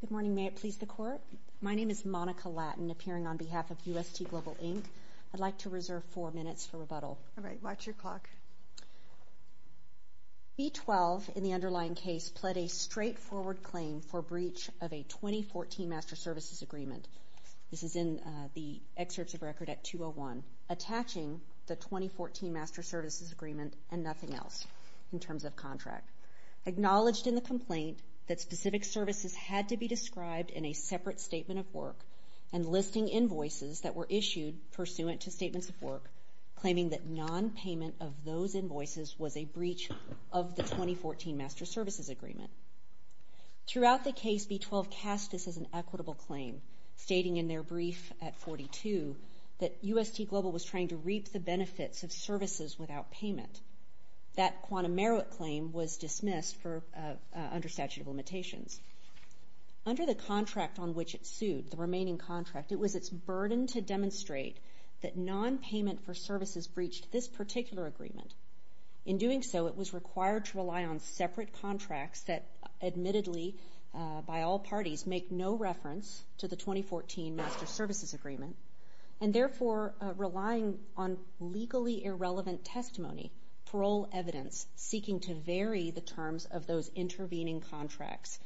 Good morning, may it please the Court? My name is Monica Lattin, appearing on behalf of UST Global, Inc. I'd like to reserve four minutes for rebuttal. All right, watch your clock. B12, in the underlying case, pled a straightforward claim for breach of a 2014 Master Services Agreement. This is in the excerpts of record at 201, attaching the 2014 Master Services Agreement and nothing else in terms of contract. Acknowledged in the complaint that specific services had to be described in a separate statement of work and listing invoices that were issued pursuant to statements of work, claiming that non-payment of those invoices was a breach of the 2014 Master Services Agreement. Throughout the case, B12 cast this as an equitable claim, stating in their brief at 42 that UST Global was trying to reap the benefits of services without payment. That quantum merit claim was dismissed under statute of limitations. Under the contract on which it sued, the remaining contract, it was its burden to demonstrate that non-payment for services breached this particular agreement. In doing so, it was required to rely on separate contracts that admittedly, by all parties, make no reference to the 2014 Master Services Agreement, and therefore relying on legally irrelevant testimony, parole evidence, seeking to vary the terms of those intervening contracts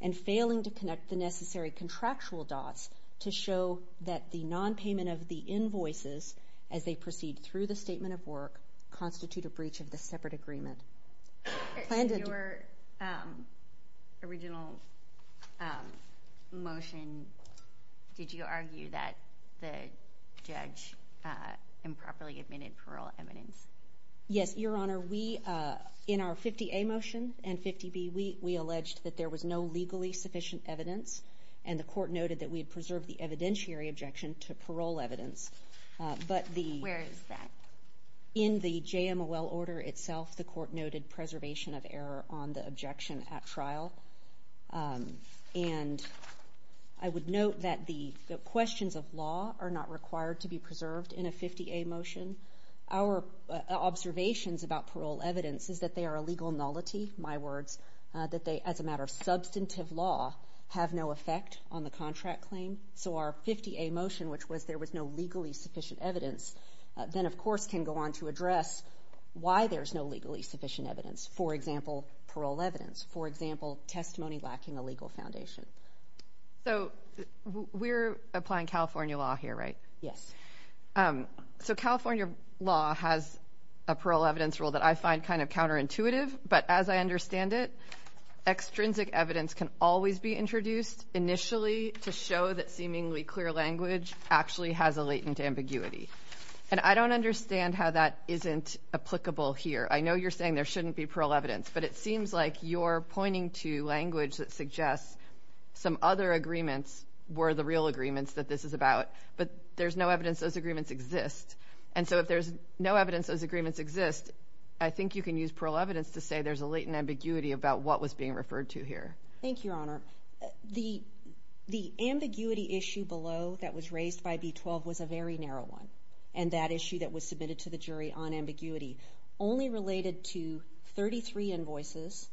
and failing to connect the necessary contractual dots to show that the non-payment of the invoices, as they proceed through the statement of work, constitute a breach of the separate agreement. Your original motion, did you argue that the judge improperly admitted parole evidence? Yes, Your Honor, we, in our 50A motion and 50B, we alleged that there was no legally sufficient evidence, and the court noted that we had preserved the evidentiary objection to parole evidence, but in the JMOL order itself, the court noted preservation of error on the objection at trial, and I would note that the questions of law are not required to be preserved in a 50A motion. Our observations about parole evidence is that they are a legal nullity, my words, that they, as a matter of substantive law, have no effect on the contract claim. So our 50A motion, which was there was no legally sufficient evidence, then of course can go on to address why there's no legally sufficient evidence, for example, parole evidence, for example, testimony lacking a legal foundation. So we're applying California law here, right? Yes. So California law has a parole evidence rule that I find kind of counterintuitive, but as I understand it, extrinsic evidence can always be introduced initially to show that seemingly clear language actually has a latent ambiguity. And I don't understand how that isn't applicable here. I know you're saying there shouldn't be parole evidence, but it seems like you're pointing to language that suggests some other agreements were the real agreements that this is about, but there's no evidence those agreements exist. And so if there's no evidence those agreements exist, I think you can use parole evidence to say there's a latent ambiguity about what was being referred to here. Thank you, Your Honor. The ambiguity issue below that was raised by B-12 was a very narrow one, and that issue that was submitted to the jury on ambiguity only related to 33 invoices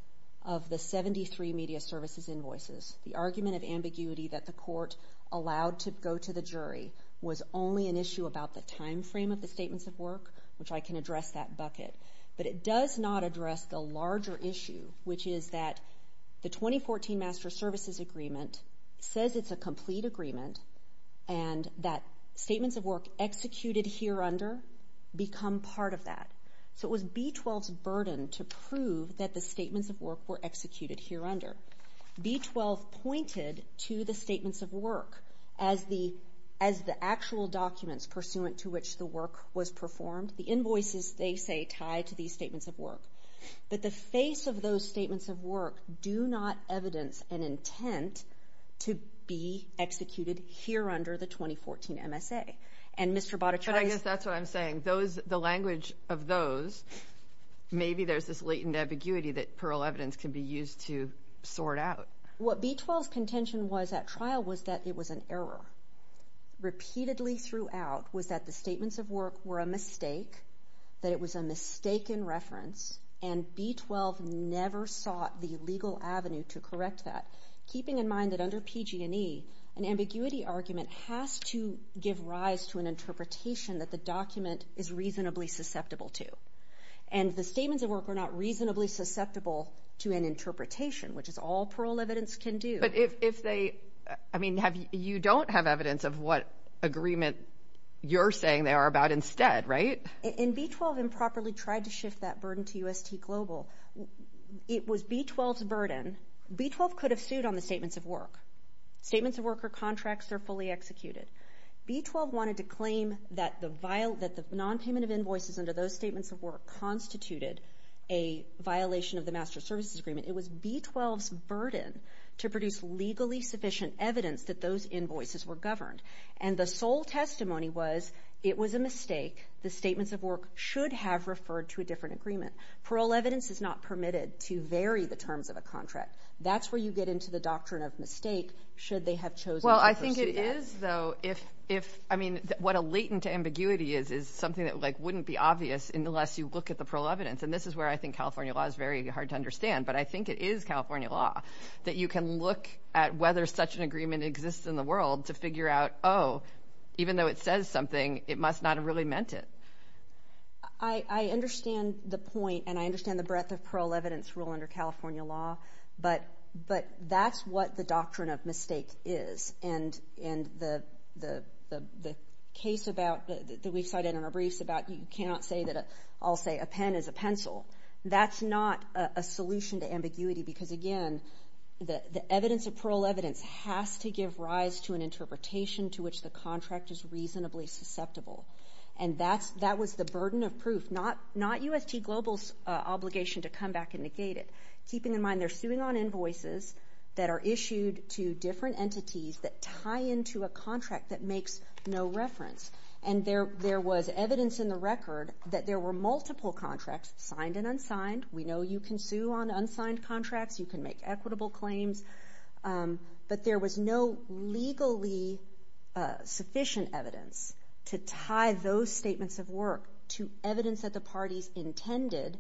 of the 73 media services invoices. The argument of ambiguity that the court allowed to go to the jury was only an issue about the time frame of the statements of work, which I can address that bucket, but it does not address the larger issue, which is that the 2014 Master Services Agreement says it's a complete agreement, and that statements of work executed here under become part of that. So it was B-12's burden to prove that the statements of work were executed here under. B-12 pointed to the statements of work as the actual documents pursuant to which the The invoices, they say, tie to these statements of work. But the face of those statements of work do not evidence an intent to be executed here under the 2014 MSA. And Mr. Botticelli's... But I guess that's what I'm saying. The language of those, maybe there's this latent ambiguity that parole evidence can be used to sort out. What B-12's contention was at trial was that it was an error. Repeatedly throughout was that the statements of work were a mistake, that it was a mistaken reference, and B-12 never sought the legal avenue to correct that, keeping in mind that under PG&E, an ambiguity argument has to give rise to an interpretation that the document is reasonably susceptible to. And the statements of work are not reasonably susceptible to an interpretation, which is all parole evidence can do. But if they, I mean, you don't have evidence of what agreement you're saying they are about instead, right? And B-12 improperly tried to shift that burden to UST Global. It was B-12's burden, B-12 could have sued on the statements of work. Statements of work are contracts, they're fully executed. B-12 wanted to claim that the nonpayment of invoices under those statements of work constituted a violation of the Master Services Agreement. It was B-12's burden to produce legally sufficient evidence that those invoices were governed. And the sole testimony was, it was a mistake, the statements of work should have referred to a different agreement. Parole evidence is not permitted to vary the terms of a contract. That's where you get into the doctrine of mistake, should they have chosen to pursue that. Well, I think it is, though, if, I mean, what a latent ambiguity is, is something that, like, wouldn't be obvious unless you look at the parole evidence, and this is where I think California law is very hard to understand, but I think it is California law, that you can look at whether such an agreement exists in the world to figure out, oh, even though it says something, it must not have really meant it. I understand the point, and I understand the breadth of parole evidence rule under California law, but that's what the doctrine of mistake is. And the case about, that we cited in our briefs about, you cannot say that, I'll say, a pen is a pencil, that's not a solution to ambiguity, because, again, the evidence of parole evidence has to give rise to an interpretation to which the contract is reasonably susceptible. And that's, that was the burden of proof, not UST Global's obligation to come back and negate it, keeping in mind they're suing on invoices that are issued to different entities that tie into a contract that makes no reference. And there was evidence in the record that there were multiple contracts, signed and unsigned, we know you can sue on unsigned contracts, you can make equitable claims, but there was no legally sufficient evidence to tie those statements of work to evidence that the parties intended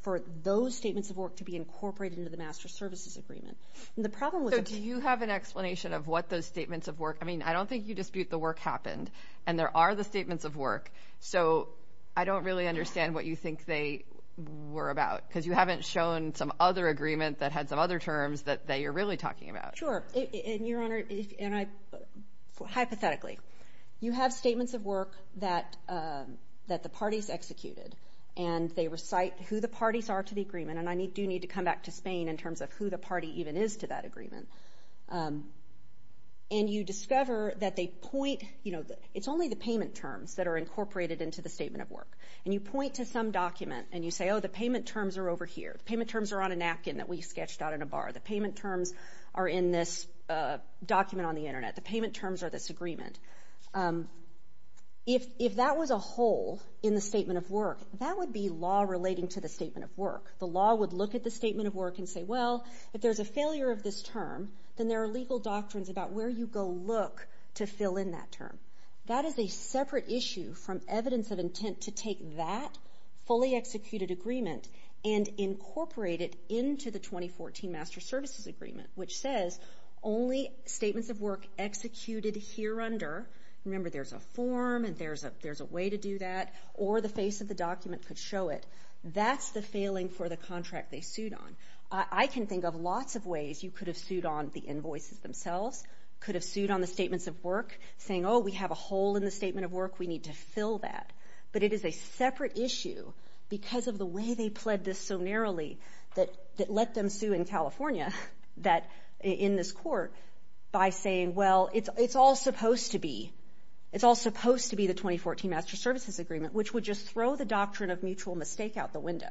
for those statements of work to be incorporated into the Master Services Agreement. And the problem was- So do you have an explanation of what those statements of work, I mean, I don't think you dispute the work happened, and there are the statements of work, so I don't really understand what you think they were about, because you haven't shown some other agreement that had some other terms that you're really talking about. Sure. And, Your Honor, and I, hypothetically, you have statements of work that the parties executed, and they recite who the parties are to the agreement, and I do need to come back to Spain in terms of who the party even is to that agreement. And you discover that they point, you know, it's only the payment terms that are incorporated into the statement of work. And you point to some document, and you say, oh, the payment terms are over here, the payment terms are on a napkin that we sketched out in a bar, the payment terms are in this document on the internet, the payment terms are this agreement. If that was a hole in the statement of work, that would be law relating to the statement of work. The law would look at the statement of work and say, well, if there's a failure of this term, then there are legal doctrines about where you go look to fill in that term. That is a separate issue from evidence of intent to take that fully executed agreement and incorporate it into the 2014 Master Services Agreement, which says only statements of work executed here under, remember, there's a form, and there's a way to do that, or the face of the document could show it. That's the failing for the contract they sued on. I can think of lots of ways you could have sued on the invoices themselves, could have sued on the statements of work, saying, oh, we have a hole in the statement of work, we need to fill that. But it is a separate issue because of the way they pled this so narrowly that let them sue in California, in this court, by saying, well, it's all supposed to be, it's all supposed to be the 2014 Master Services Agreement, which would just throw the doctrine of mutual mistake out the window.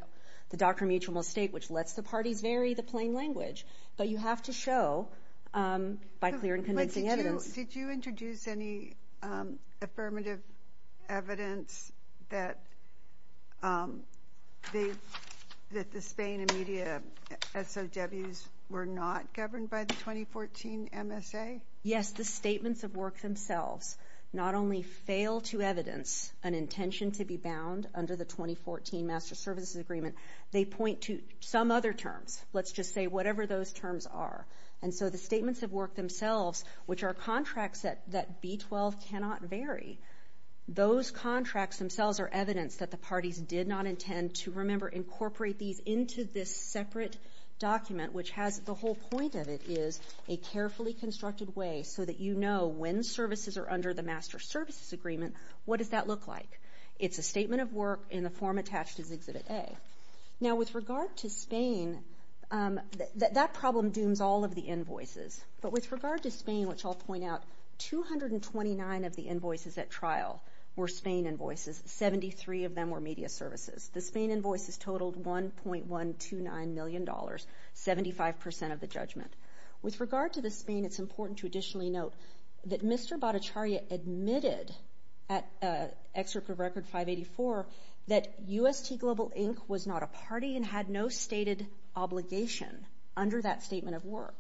The doctrine of mutual mistake, which lets the parties vary the plain language, but you have to show, by clear and convincing evidence. Did you introduce any affirmative evidence that the Spain and media SOWs were not governed by the 2014 MSA? Yes, the statements of work themselves not only fail to evidence an intention to be bound under the 2014 Master Services Agreement, they point to some other terms. Let's just say whatever those terms are. And so the statements of work themselves, which are contracts that B-12 cannot vary, those contracts themselves are evidence that the parties did not intend to, remember, incorporate these into this separate document, which has the whole point of it is a carefully constructed way so that you know when services are under the Master Services Agreement, what does that look like? It's a statement of work in the form attached as Exhibit A. Now with regard to Spain, that problem dooms all of the invoices, but with regard to Spain, which I'll point out, 229 of the invoices at trial were Spain invoices, 73 of them were media services. The Spain invoices totaled $1.129 million, 75% of the judgment. With regard to the Spain, it's important to additionally note that Mr. Bhattacharya admitted at Excerpt of Record 584 that UST Global Inc. was not a party and had no stated obligation under that statement of work.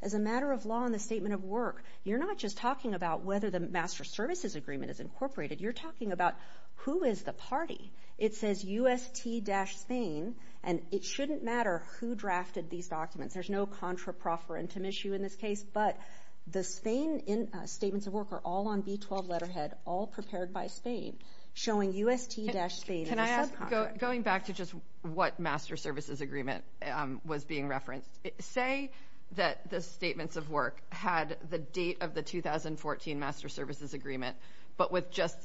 As a matter of law in the statement of work, you're not just talking about whether the Master Services Agreement is incorporated, you're talking about who is the party. It says UST-Spain, and it shouldn't matter who drafted these documents. There's no contra-proferentum issue in this case, but the Spain statements of work are all on B-12 letterhead, all prepared by Spain, showing UST-Spain as a subcontractor. Going back to just what Master Services Agreement was being referenced, say that the statements of work had the date of the 2014 Master Services Agreement, but with just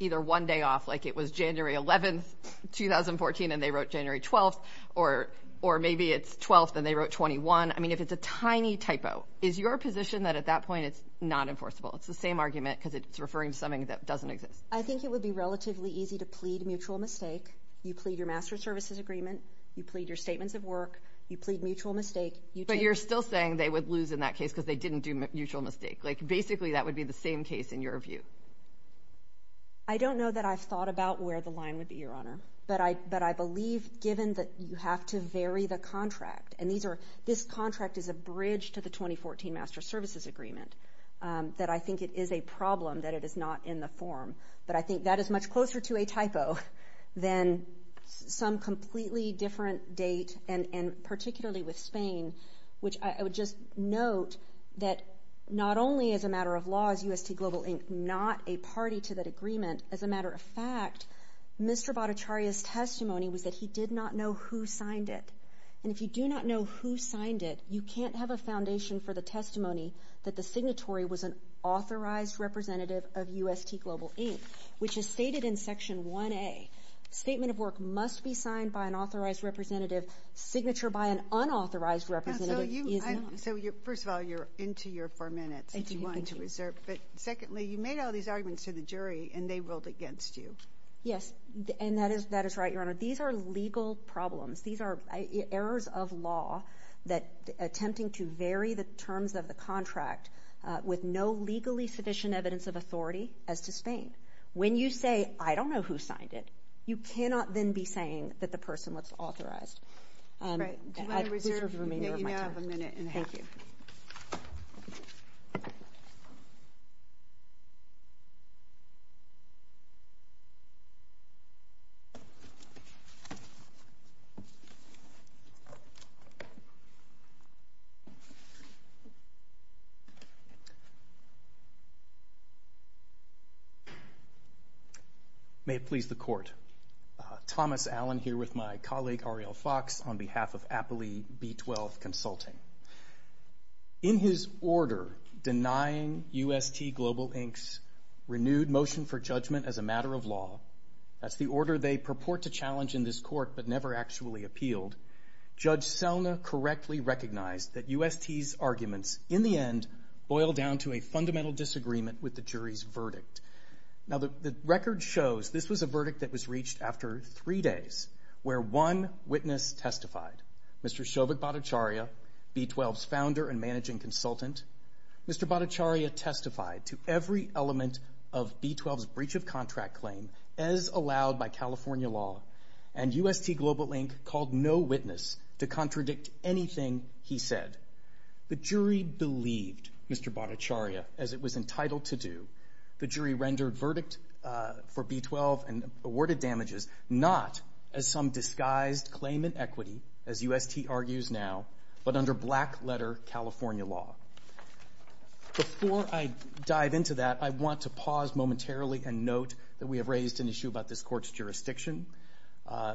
either one day off, like it was January 11th, 2014, and they wrote January 12th, or maybe it's 12th and they wrote 21. I mean, if it's a tiny typo, is your position that at that point it's not enforceable? It's the same argument, because it's referring to something that doesn't exist. I think it would be relatively easy to plead mutual mistake. You plead your Master Services Agreement, you plead your statements of work, you plead mutual mistake, you take... But you're still saying they would lose in that case because they didn't do mutual mistake. Like basically that would be the same case in your view. I don't know that I've thought about where the line would be, Your Honor, but I believe given that you have to vary the contract, and this contract is a bridge to the 2014 Master Services Agreement, that I think it is a problem that it is not in the form. But I think that is much closer to a typo than some completely different date, and particularly with Spain, which I would just note that not only as a matter of law is UST Global Inc. not a party to that agreement, as a matter of fact, Mr. Bhattacharya's testimony was that he did not know who signed it. And if you do not know who signed it, you can't have a foundation for the testimony that the signatory was an authorized representative of UST Global Inc., which is stated in Section 1A. Statement of work must be signed by an authorized representative. Signature by an unauthorized representative is not. So first of all, you're into your four minutes that you wanted to reserve, but secondly, you made all these arguments to the jury, and they ruled against you. Yes, and that is right, Your Honor. These are legal problems. These are errors of law that attempting to vary the terms of the contract with no legally sufficient evidence of authority as to Spain. When you say, I don't know who signed it, you cannot then be saying that the person was authorized. Right. Do you want to reserve? You have a minute and a half. Thank you. May it please the Court, Thomas Allen here with my colleague Ariel Fox on behalf of In his order denying UST Global Inc.'s renewed motion for judgment as a matter of law, that's the order they purport to challenge in this court but never actually appealed, Judge Selna correctly recognized that UST's arguments, in the end, boil down to a fundamental disagreement with the jury's verdict. Now the record shows this was a verdict that was reached after three days, where one witness testified, Mr. Shovak Bhattacharya, B-12's founder and managing consultant. Mr. Bhattacharya testified to every element of B-12's breach of contract claim as allowed by California law, and UST Global Inc. called no witness to contradict anything he said. The jury believed Mr. Bhattacharya, as it was entitled to do. The jury rendered verdict for B-12 and awarded damages, not as some disguised claimant equity, as UST argues now, but under black-letter California law. Before I dive into that, I want to pause momentarily and note that we have raised an issue about this court's jurisdiction.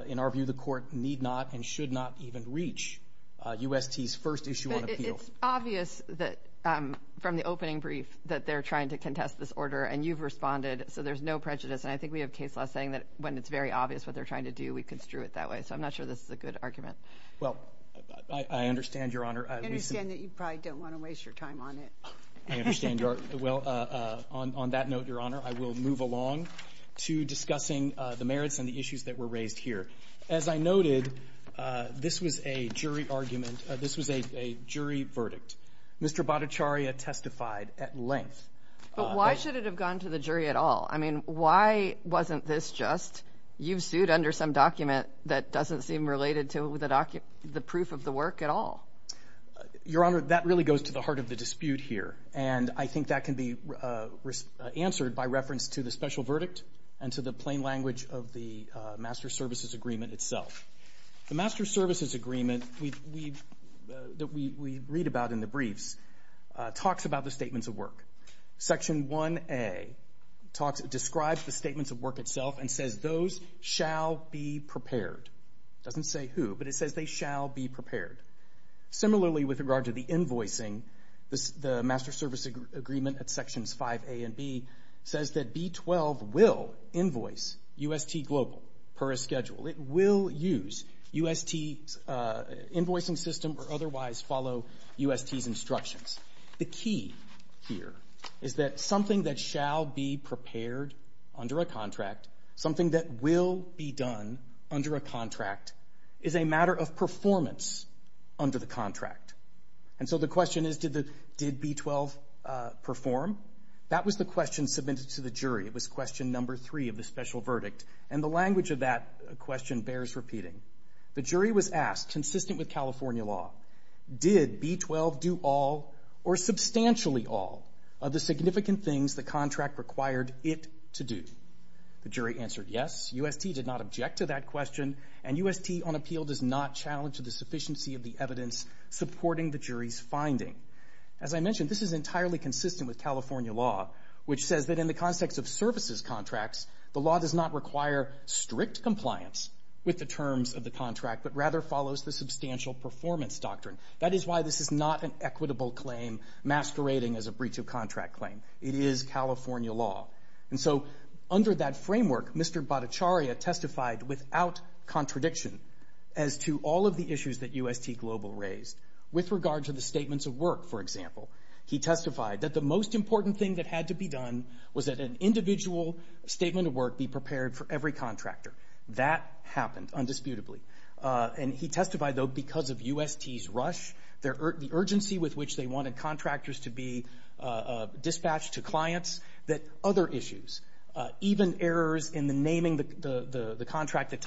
In our view, the court need not and should not even reach UST's first issue on appeals. It's obvious that, from the opening brief, that they're trying to contest this order, and you've responded, so there's no prejudice, and I think we have case law saying that when it's very obvious what they're trying to do, we construe it that way, so I'm not sure this is a good argument. Well, I understand, Your Honor. I understand that you probably don't want to waste your time on it. I understand your, well, on that note, Your Honor, I will move along to discussing the merits and the issues that were raised here. As I noted, this was a jury argument, this was a jury verdict. Mr. Bhattacharya testified at length. But why should it have gone to the jury at all? I mean, why wasn't this just, you've sued under some document that doesn't seem related to the proof of the work at all? Your Honor, that really goes to the heart of the dispute here, and I think that can be answered by reference to the special verdict and to the plain language of the Master Services Agreement itself. The Master Services Agreement that we read about in the briefs talks about the statements of work. Section 1A describes the statements of work itself and says, those shall be prepared. Doesn't say who, but it says they shall be prepared. Similarly, with regard to the invoicing, the Master Service Agreement at Sections 5A and 5B says that B-12 will invoice UST Global per a schedule. It will use UST's invoicing system or otherwise follow UST's instructions. The key here is that something that shall be prepared under a contract, something that will be done under a contract, is a matter of performance under the contract. And so the question is, did B-12 perform? That was the question submitted to the jury. It was question number three of the special verdict, and the language of that question bears repeating. The jury was asked, consistent with California law, did B-12 do all or substantially all of the significant things the contract required it to do? The jury answered yes. UST did not object to that question, and UST on appeal does not challenge the sufficiency of the evidence supporting the jury's finding. As I mentioned, this is entirely consistent with California law, which says that in the context of services contracts, the law does not require strict compliance with the terms of the contract, but rather follows the substantial performance doctrine. That is why this is not an equitable claim masquerading as a breach of contract claim. It is California law. And so under that framework, Mr. Bhattacharya testified without contradiction as to all of the issues that UST Global raised. With regard to the statements of work, for example, he testified that the most important thing that had to be done was that an individual statement of work be prepared for every contractor. That happened, undisputably. And he testified, though, because of UST's rush, the urgency with which they wanted contractors to be dispatched to clients, that other issues, even errors in the naming the contract, the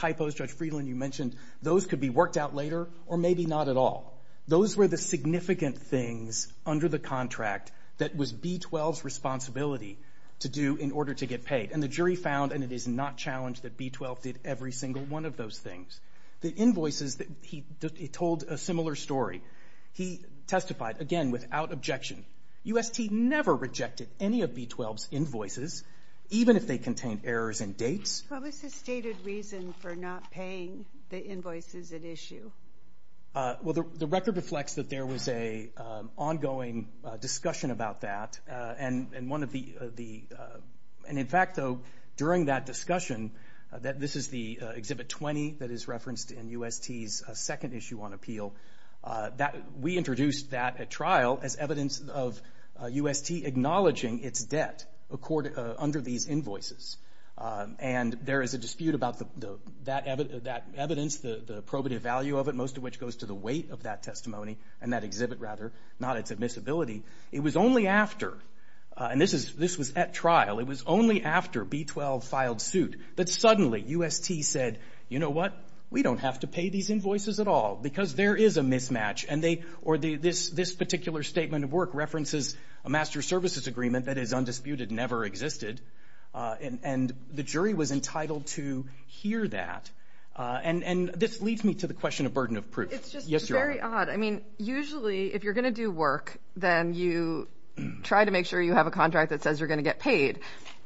or maybe not at all. Those were the significant things under the contract that was B-12's responsibility to do in order to get paid. And the jury found, and it is not challenged, that B-12 did every single one of those things. The invoices, he told a similar story. He testified, again, without objection. UST never rejected any of B-12's invoices, even if they contained errors in dates. What was the stated reason for not paying the invoices at issue? Well, the record reflects that there was an ongoing discussion about that. And in fact, though, during that discussion, this is the Exhibit 20 that is referenced in UST's second issue on appeal. We introduced that at trial as evidence of UST acknowledging its debt under these invoices. And there is a dispute about that evidence, the probative value of it, most of which goes to the weight of that testimony and that exhibit, rather, not its admissibility. It was only after, and this was at trial, it was only after B-12 filed suit that suddenly UST said, you know what, we don't have to pay these invoices at all because there is a mismatch. And they, or this particular statement of work references a master services agreement that is undisputed, never existed. And the jury was entitled to hear that. And this leads me to the question of burden of proof. Yes, Your Honor. It's just very odd. I mean, usually, if you're going to do work, then you try to make sure you have a contract that says you're going to get paid.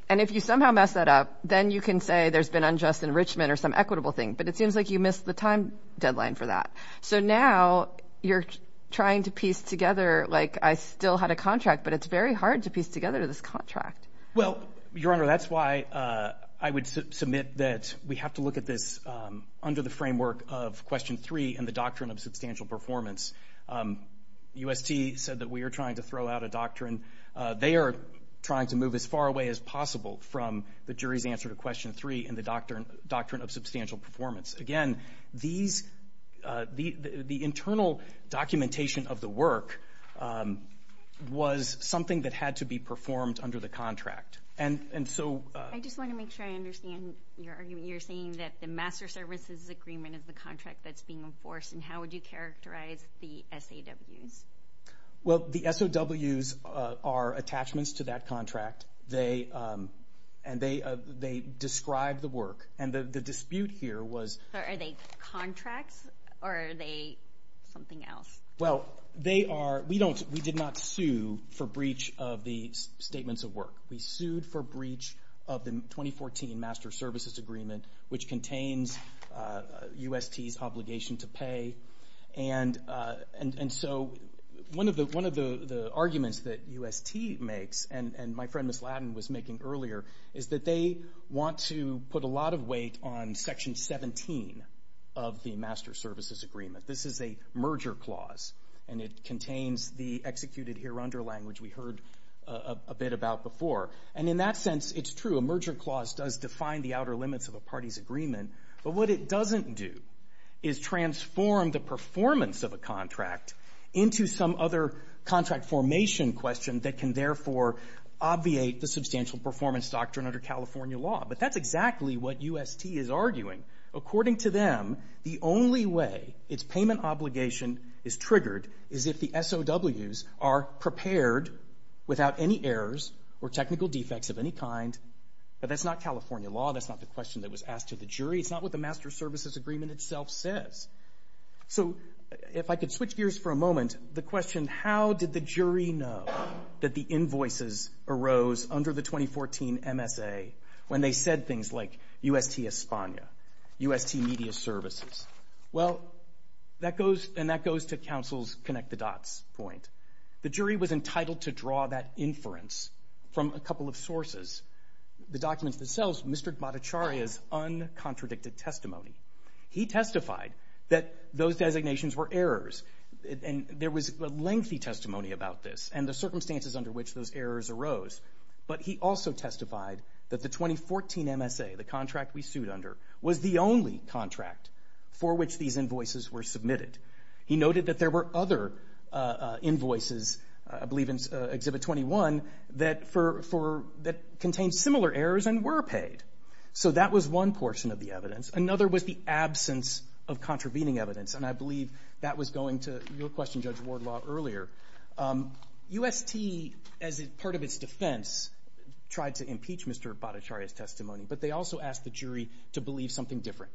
And if you somehow mess that up, then you can say there's been unjust enrichment or some equitable thing. But it seems like you missed the time deadline for that. So now you're trying to piece together, like, I still had a contract, but it's very hard to piece together this contract. Well, Your Honor, that's why I would submit that we have to look at this under the framework of Question 3 and the Doctrine of Substantial Performance. UST said that we are trying to throw out a doctrine. They are trying to move as far away as possible from the jury's answer to Question 3 and the Doctrine of Substantial Performance. Again, the internal documentation of the work was something that had to be performed under the contract. And so... I just want to make sure I understand your argument. You're saying that the Master Services Agreement is the contract that's being enforced, and how would you characterize the SAWs? Well, the SAWs are attachments to that contract. And they describe the work. And the dispute here was... Are they contracts, or are they something else? Well, they are... We don't... We did not sue for breach of the Statements of Work. We sued for breach of the 2014 Master Services Agreement, which contains UST's obligation to pay. And so one of the arguments that UST makes, and my friend, Ms. Ladin, was making earlier, is that they want to put a lot of weight on Section 17 of the Master Services Agreement. This is a merger clause, and it contains the executed here under language we heard a bit about before. And in that sense, it's true. A merger clause does define the outer limits of a party's agreement. But what it doesn't do is transform the performance of a contract into some other contract formation question that can, therefore, obviate the substantial performance doctrine under California law. But that's exactly what UST is arguing. According to them, the only way its payment obligation is triggered is if the SAWs are prepared without any errors or technical defects of any kind, but that's not California law. That's not the question that was asked to the jury. It's not what the Master Services Agreement itself says. So if I could switch gears for a moment, the question, how did the jury know that the invoices arose under the 2014 MSA when they said things like UST España, UST Media Services? Well, and that goes to counsel's connect-the-dots point. The jury was entitled to draw that inference from a couple of sources, the documents themselves, Mr. Gbadacharya's uncontradicted testimony. He testified that those designations were errors, and there was lengthy testimony about this and the circumstances under which those errors arose. But he also testified that the 2014 MSA, the contract we sued under, was the only contract for which these invoices were submitted. He noted that there were other invoices, I believe in Exhibit 21, that contained similar errors and were paid. So that was one portion of the evidence. Another was the absence of contravening evidence, and I believe that was going to your question, Judge Wardlaw, earlier. UST, as part of its defense, tried to impeach Mr. Gbadacharya's testimony, but they also asked the jury to believe something different.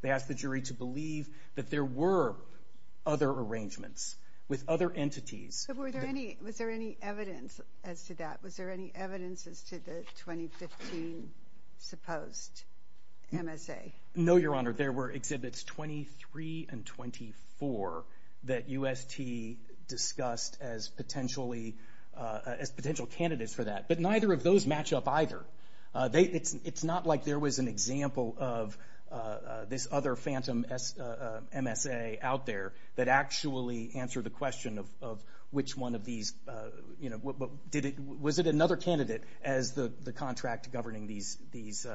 They asked the jury to believe that there were other arrangements with other entities. But was there any evidence as to that? Was there any evidence as to the 2015 supposed MSA? No, Your Honor. There were Exhibits 23 and 24 that UST discussed as potential candidates for that. But neither of those match up either. It's not like there was an example of this other phantom MSA out there that actually answered the question of which one of these... Was it another candidate as the contract governing these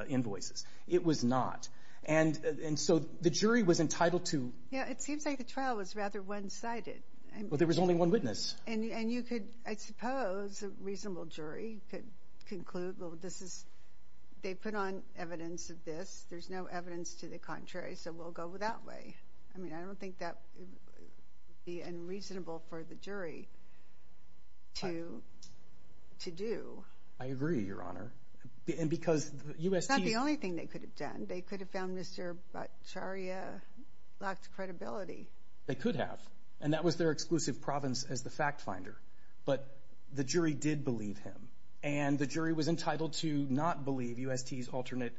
invoices? It was not. And so the jury was entitled to... Yeah, it seems like the trial was rather one-sided. Well, there was only one witness. And you could... I suppose a reasonable jury could conclude, well, this is... They put on evidence of this. There's no evidence to the contrary, so we'll go that way. I mean, I don't think that would be unreasonable for the jury to do. I agree, Your Honor. Because UST... But that's not the only thing they could have done. They could have found Mr. Bacharya lacked credibility. They could have. And that was their exclusive province as the fact finder. But the jury did believe him. And the jury was entitled to not believe UST's alternate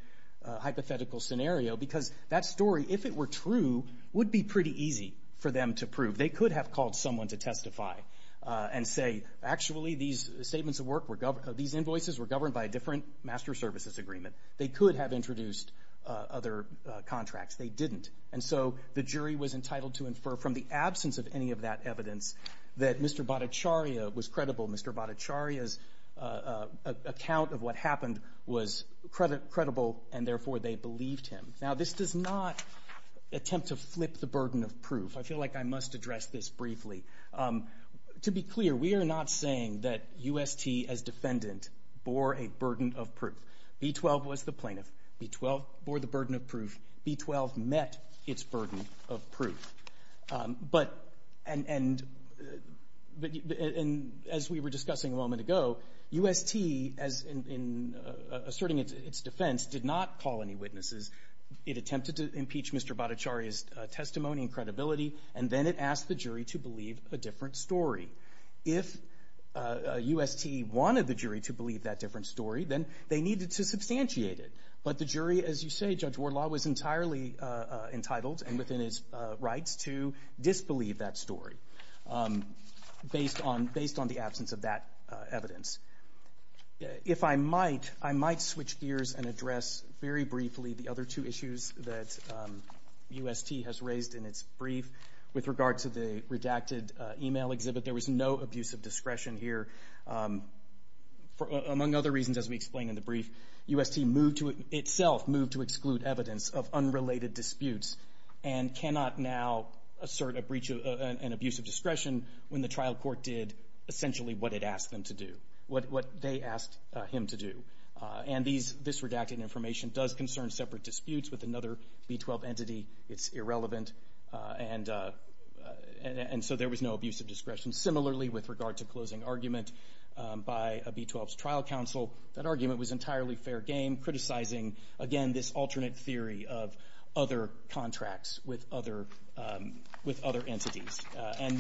hypothetical scenario because that story, if it were true, would be pretty easy for them to prove. They could have called someone to testify and say, actually, these statements of work were governed... These invoices were governed by a different master services agreement. They could have introduced other contracts. They didn't. And so the jury was entitled to infer from the absence of any of that evidence that Mr. Bacharya was credible. Mr. Bacharya's account of what happened was credible, and therefore they believed him. Now, this does not attempt to flip the burden of proof. I feel like I must address this briefly. To be clear, we are not saying that UST as defendant bore a burden of proof. B-12 was the plaintiff. B-12 bore the burden of proof. B-12 met its burden of proof. But as we were discussing a moment ago, UST, as in asserting its defense, did not call any witnesses. It attempted to impeach Mr. Bacharya's testimony and credibility, and then it asked the jury to believe a different story. If UST wanted the jury to believe that different story, then they needed to substantiate it. But the jury, as you say, Judge Wardlaw, was entirely entitled and within its rights to disbelieve that story based on the absence of that evidence. If I might, I might switch gears and address very briefly the other two issues that UST has raised in its brief with regard to the redacted email exhibit. There was no abuse of discretion here. Among other reasons, as we explained in the brief, UST itself moved to exclude evidence of unrelated disputes and cannot now assert an abuse of discretion when the trial court did essentially what it asked them to do, what they asked him to do. This redacted information does concern separate disputes with another B-12 entity. It's irrelevant, and so there was no abuse of discretion. Similarly, with regard to closing argument by a B-12's trial counsel, that argument was entirely fair game, criticizing, again, this alternate theory of other contracts with other entities. And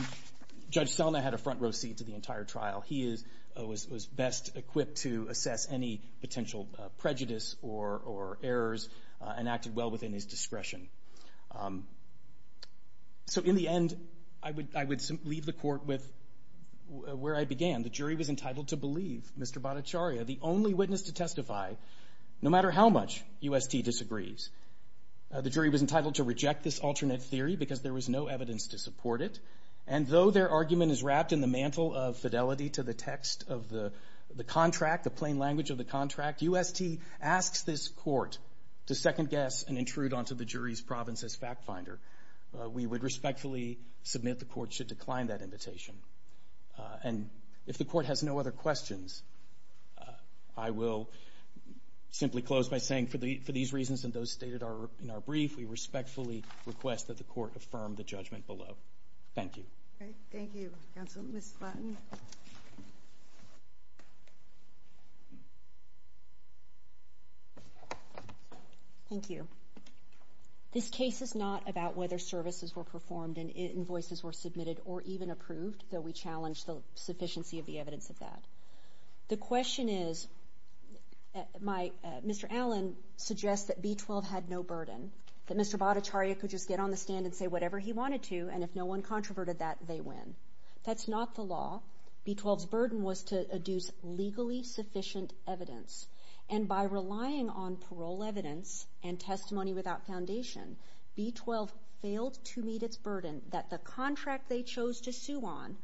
Judge Selma had a front row seat to the entire trial. He was best equipped to assess any potential prejudice or errors and acted well within his discretion. So in the end, I would leave the court with where I began. The jury was entitled to believe Mr. Bhattacharya, the only witness to testify, no matter how much UST disagrees. The jury was entitled to reject this alternate theory because there was no evidence to support it. And though their argument is wrapped in the mantle of fidelity to the text of the contract, the plain language of the contract, UST asks this court to second guess and intrude onto the jury's province as fact finder. We would respectfully submit the court should decline that invitation. And if the court has no other questions, I will simply close by saying for these reasons and those stated in our brief, we respectfully request that the court affirm the judgment below. Thank you. Thank you, counsel. Ms. Flaten? Thank you. This case is not about whether services were performed and invoices were submitted or even approved, though we challenge the sufficiency of the evidence of that. The question is, Mr. Allen suggests that B-12 had no burden, that Mr. Bhattacharya could just get on the stand and say whatever he wanted to, and if no one controverted that, they win. That's not the law. B-12's burden was to adduce legally sufficient evidence, and by relying on parole evidence and testimony without foundation, B-12 failed to meet its burden that the contract they chose to sue on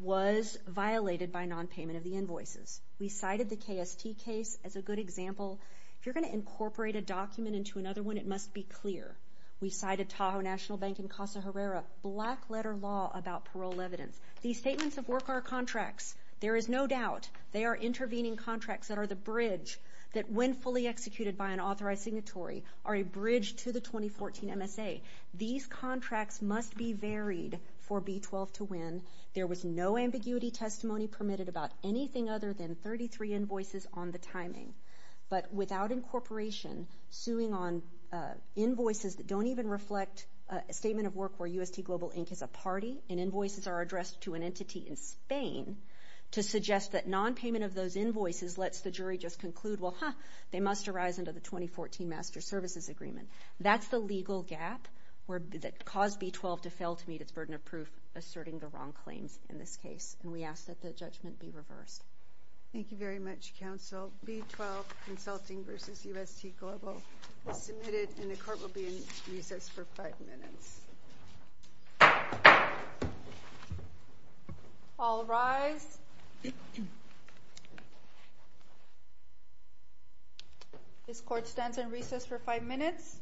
was violated by nonpayment of the invoices. We cited the KST case as a good example. If you're going to incorporate a document into another one, it must be clear. We cited Tahoe National Bank in Casa Herrera, black-letter law about parole evidence. These statements of work are contracts. There is no doubt they are intervening contracts that are the bridge that, when fully executed by an authorized signatory, are a bridge to the 2014 MSA. These contracts must be varied for B-12 to win. There was no ambiguity testimony permitted about anything other than 33 invoices on the invoices that don't even reflect a statement of work where UST Global Inc. is a party and invoices are addressed to an entity in Spain to suggest that nonpayment of those invoices lets the jury just conclude, well, ha, they must arise under the 2014 Master Services Agreement. That's the legal gap that caused B-12 to fail to meet its burden of proof asserting the wrong claims in this case, and we ask that the judgment be reversed. Thank you very much, Counsel. B-12, Consulting v. UST Global is submitted, and the court will be in recess for five minutes. All rise. This court stands in recess for five minutes.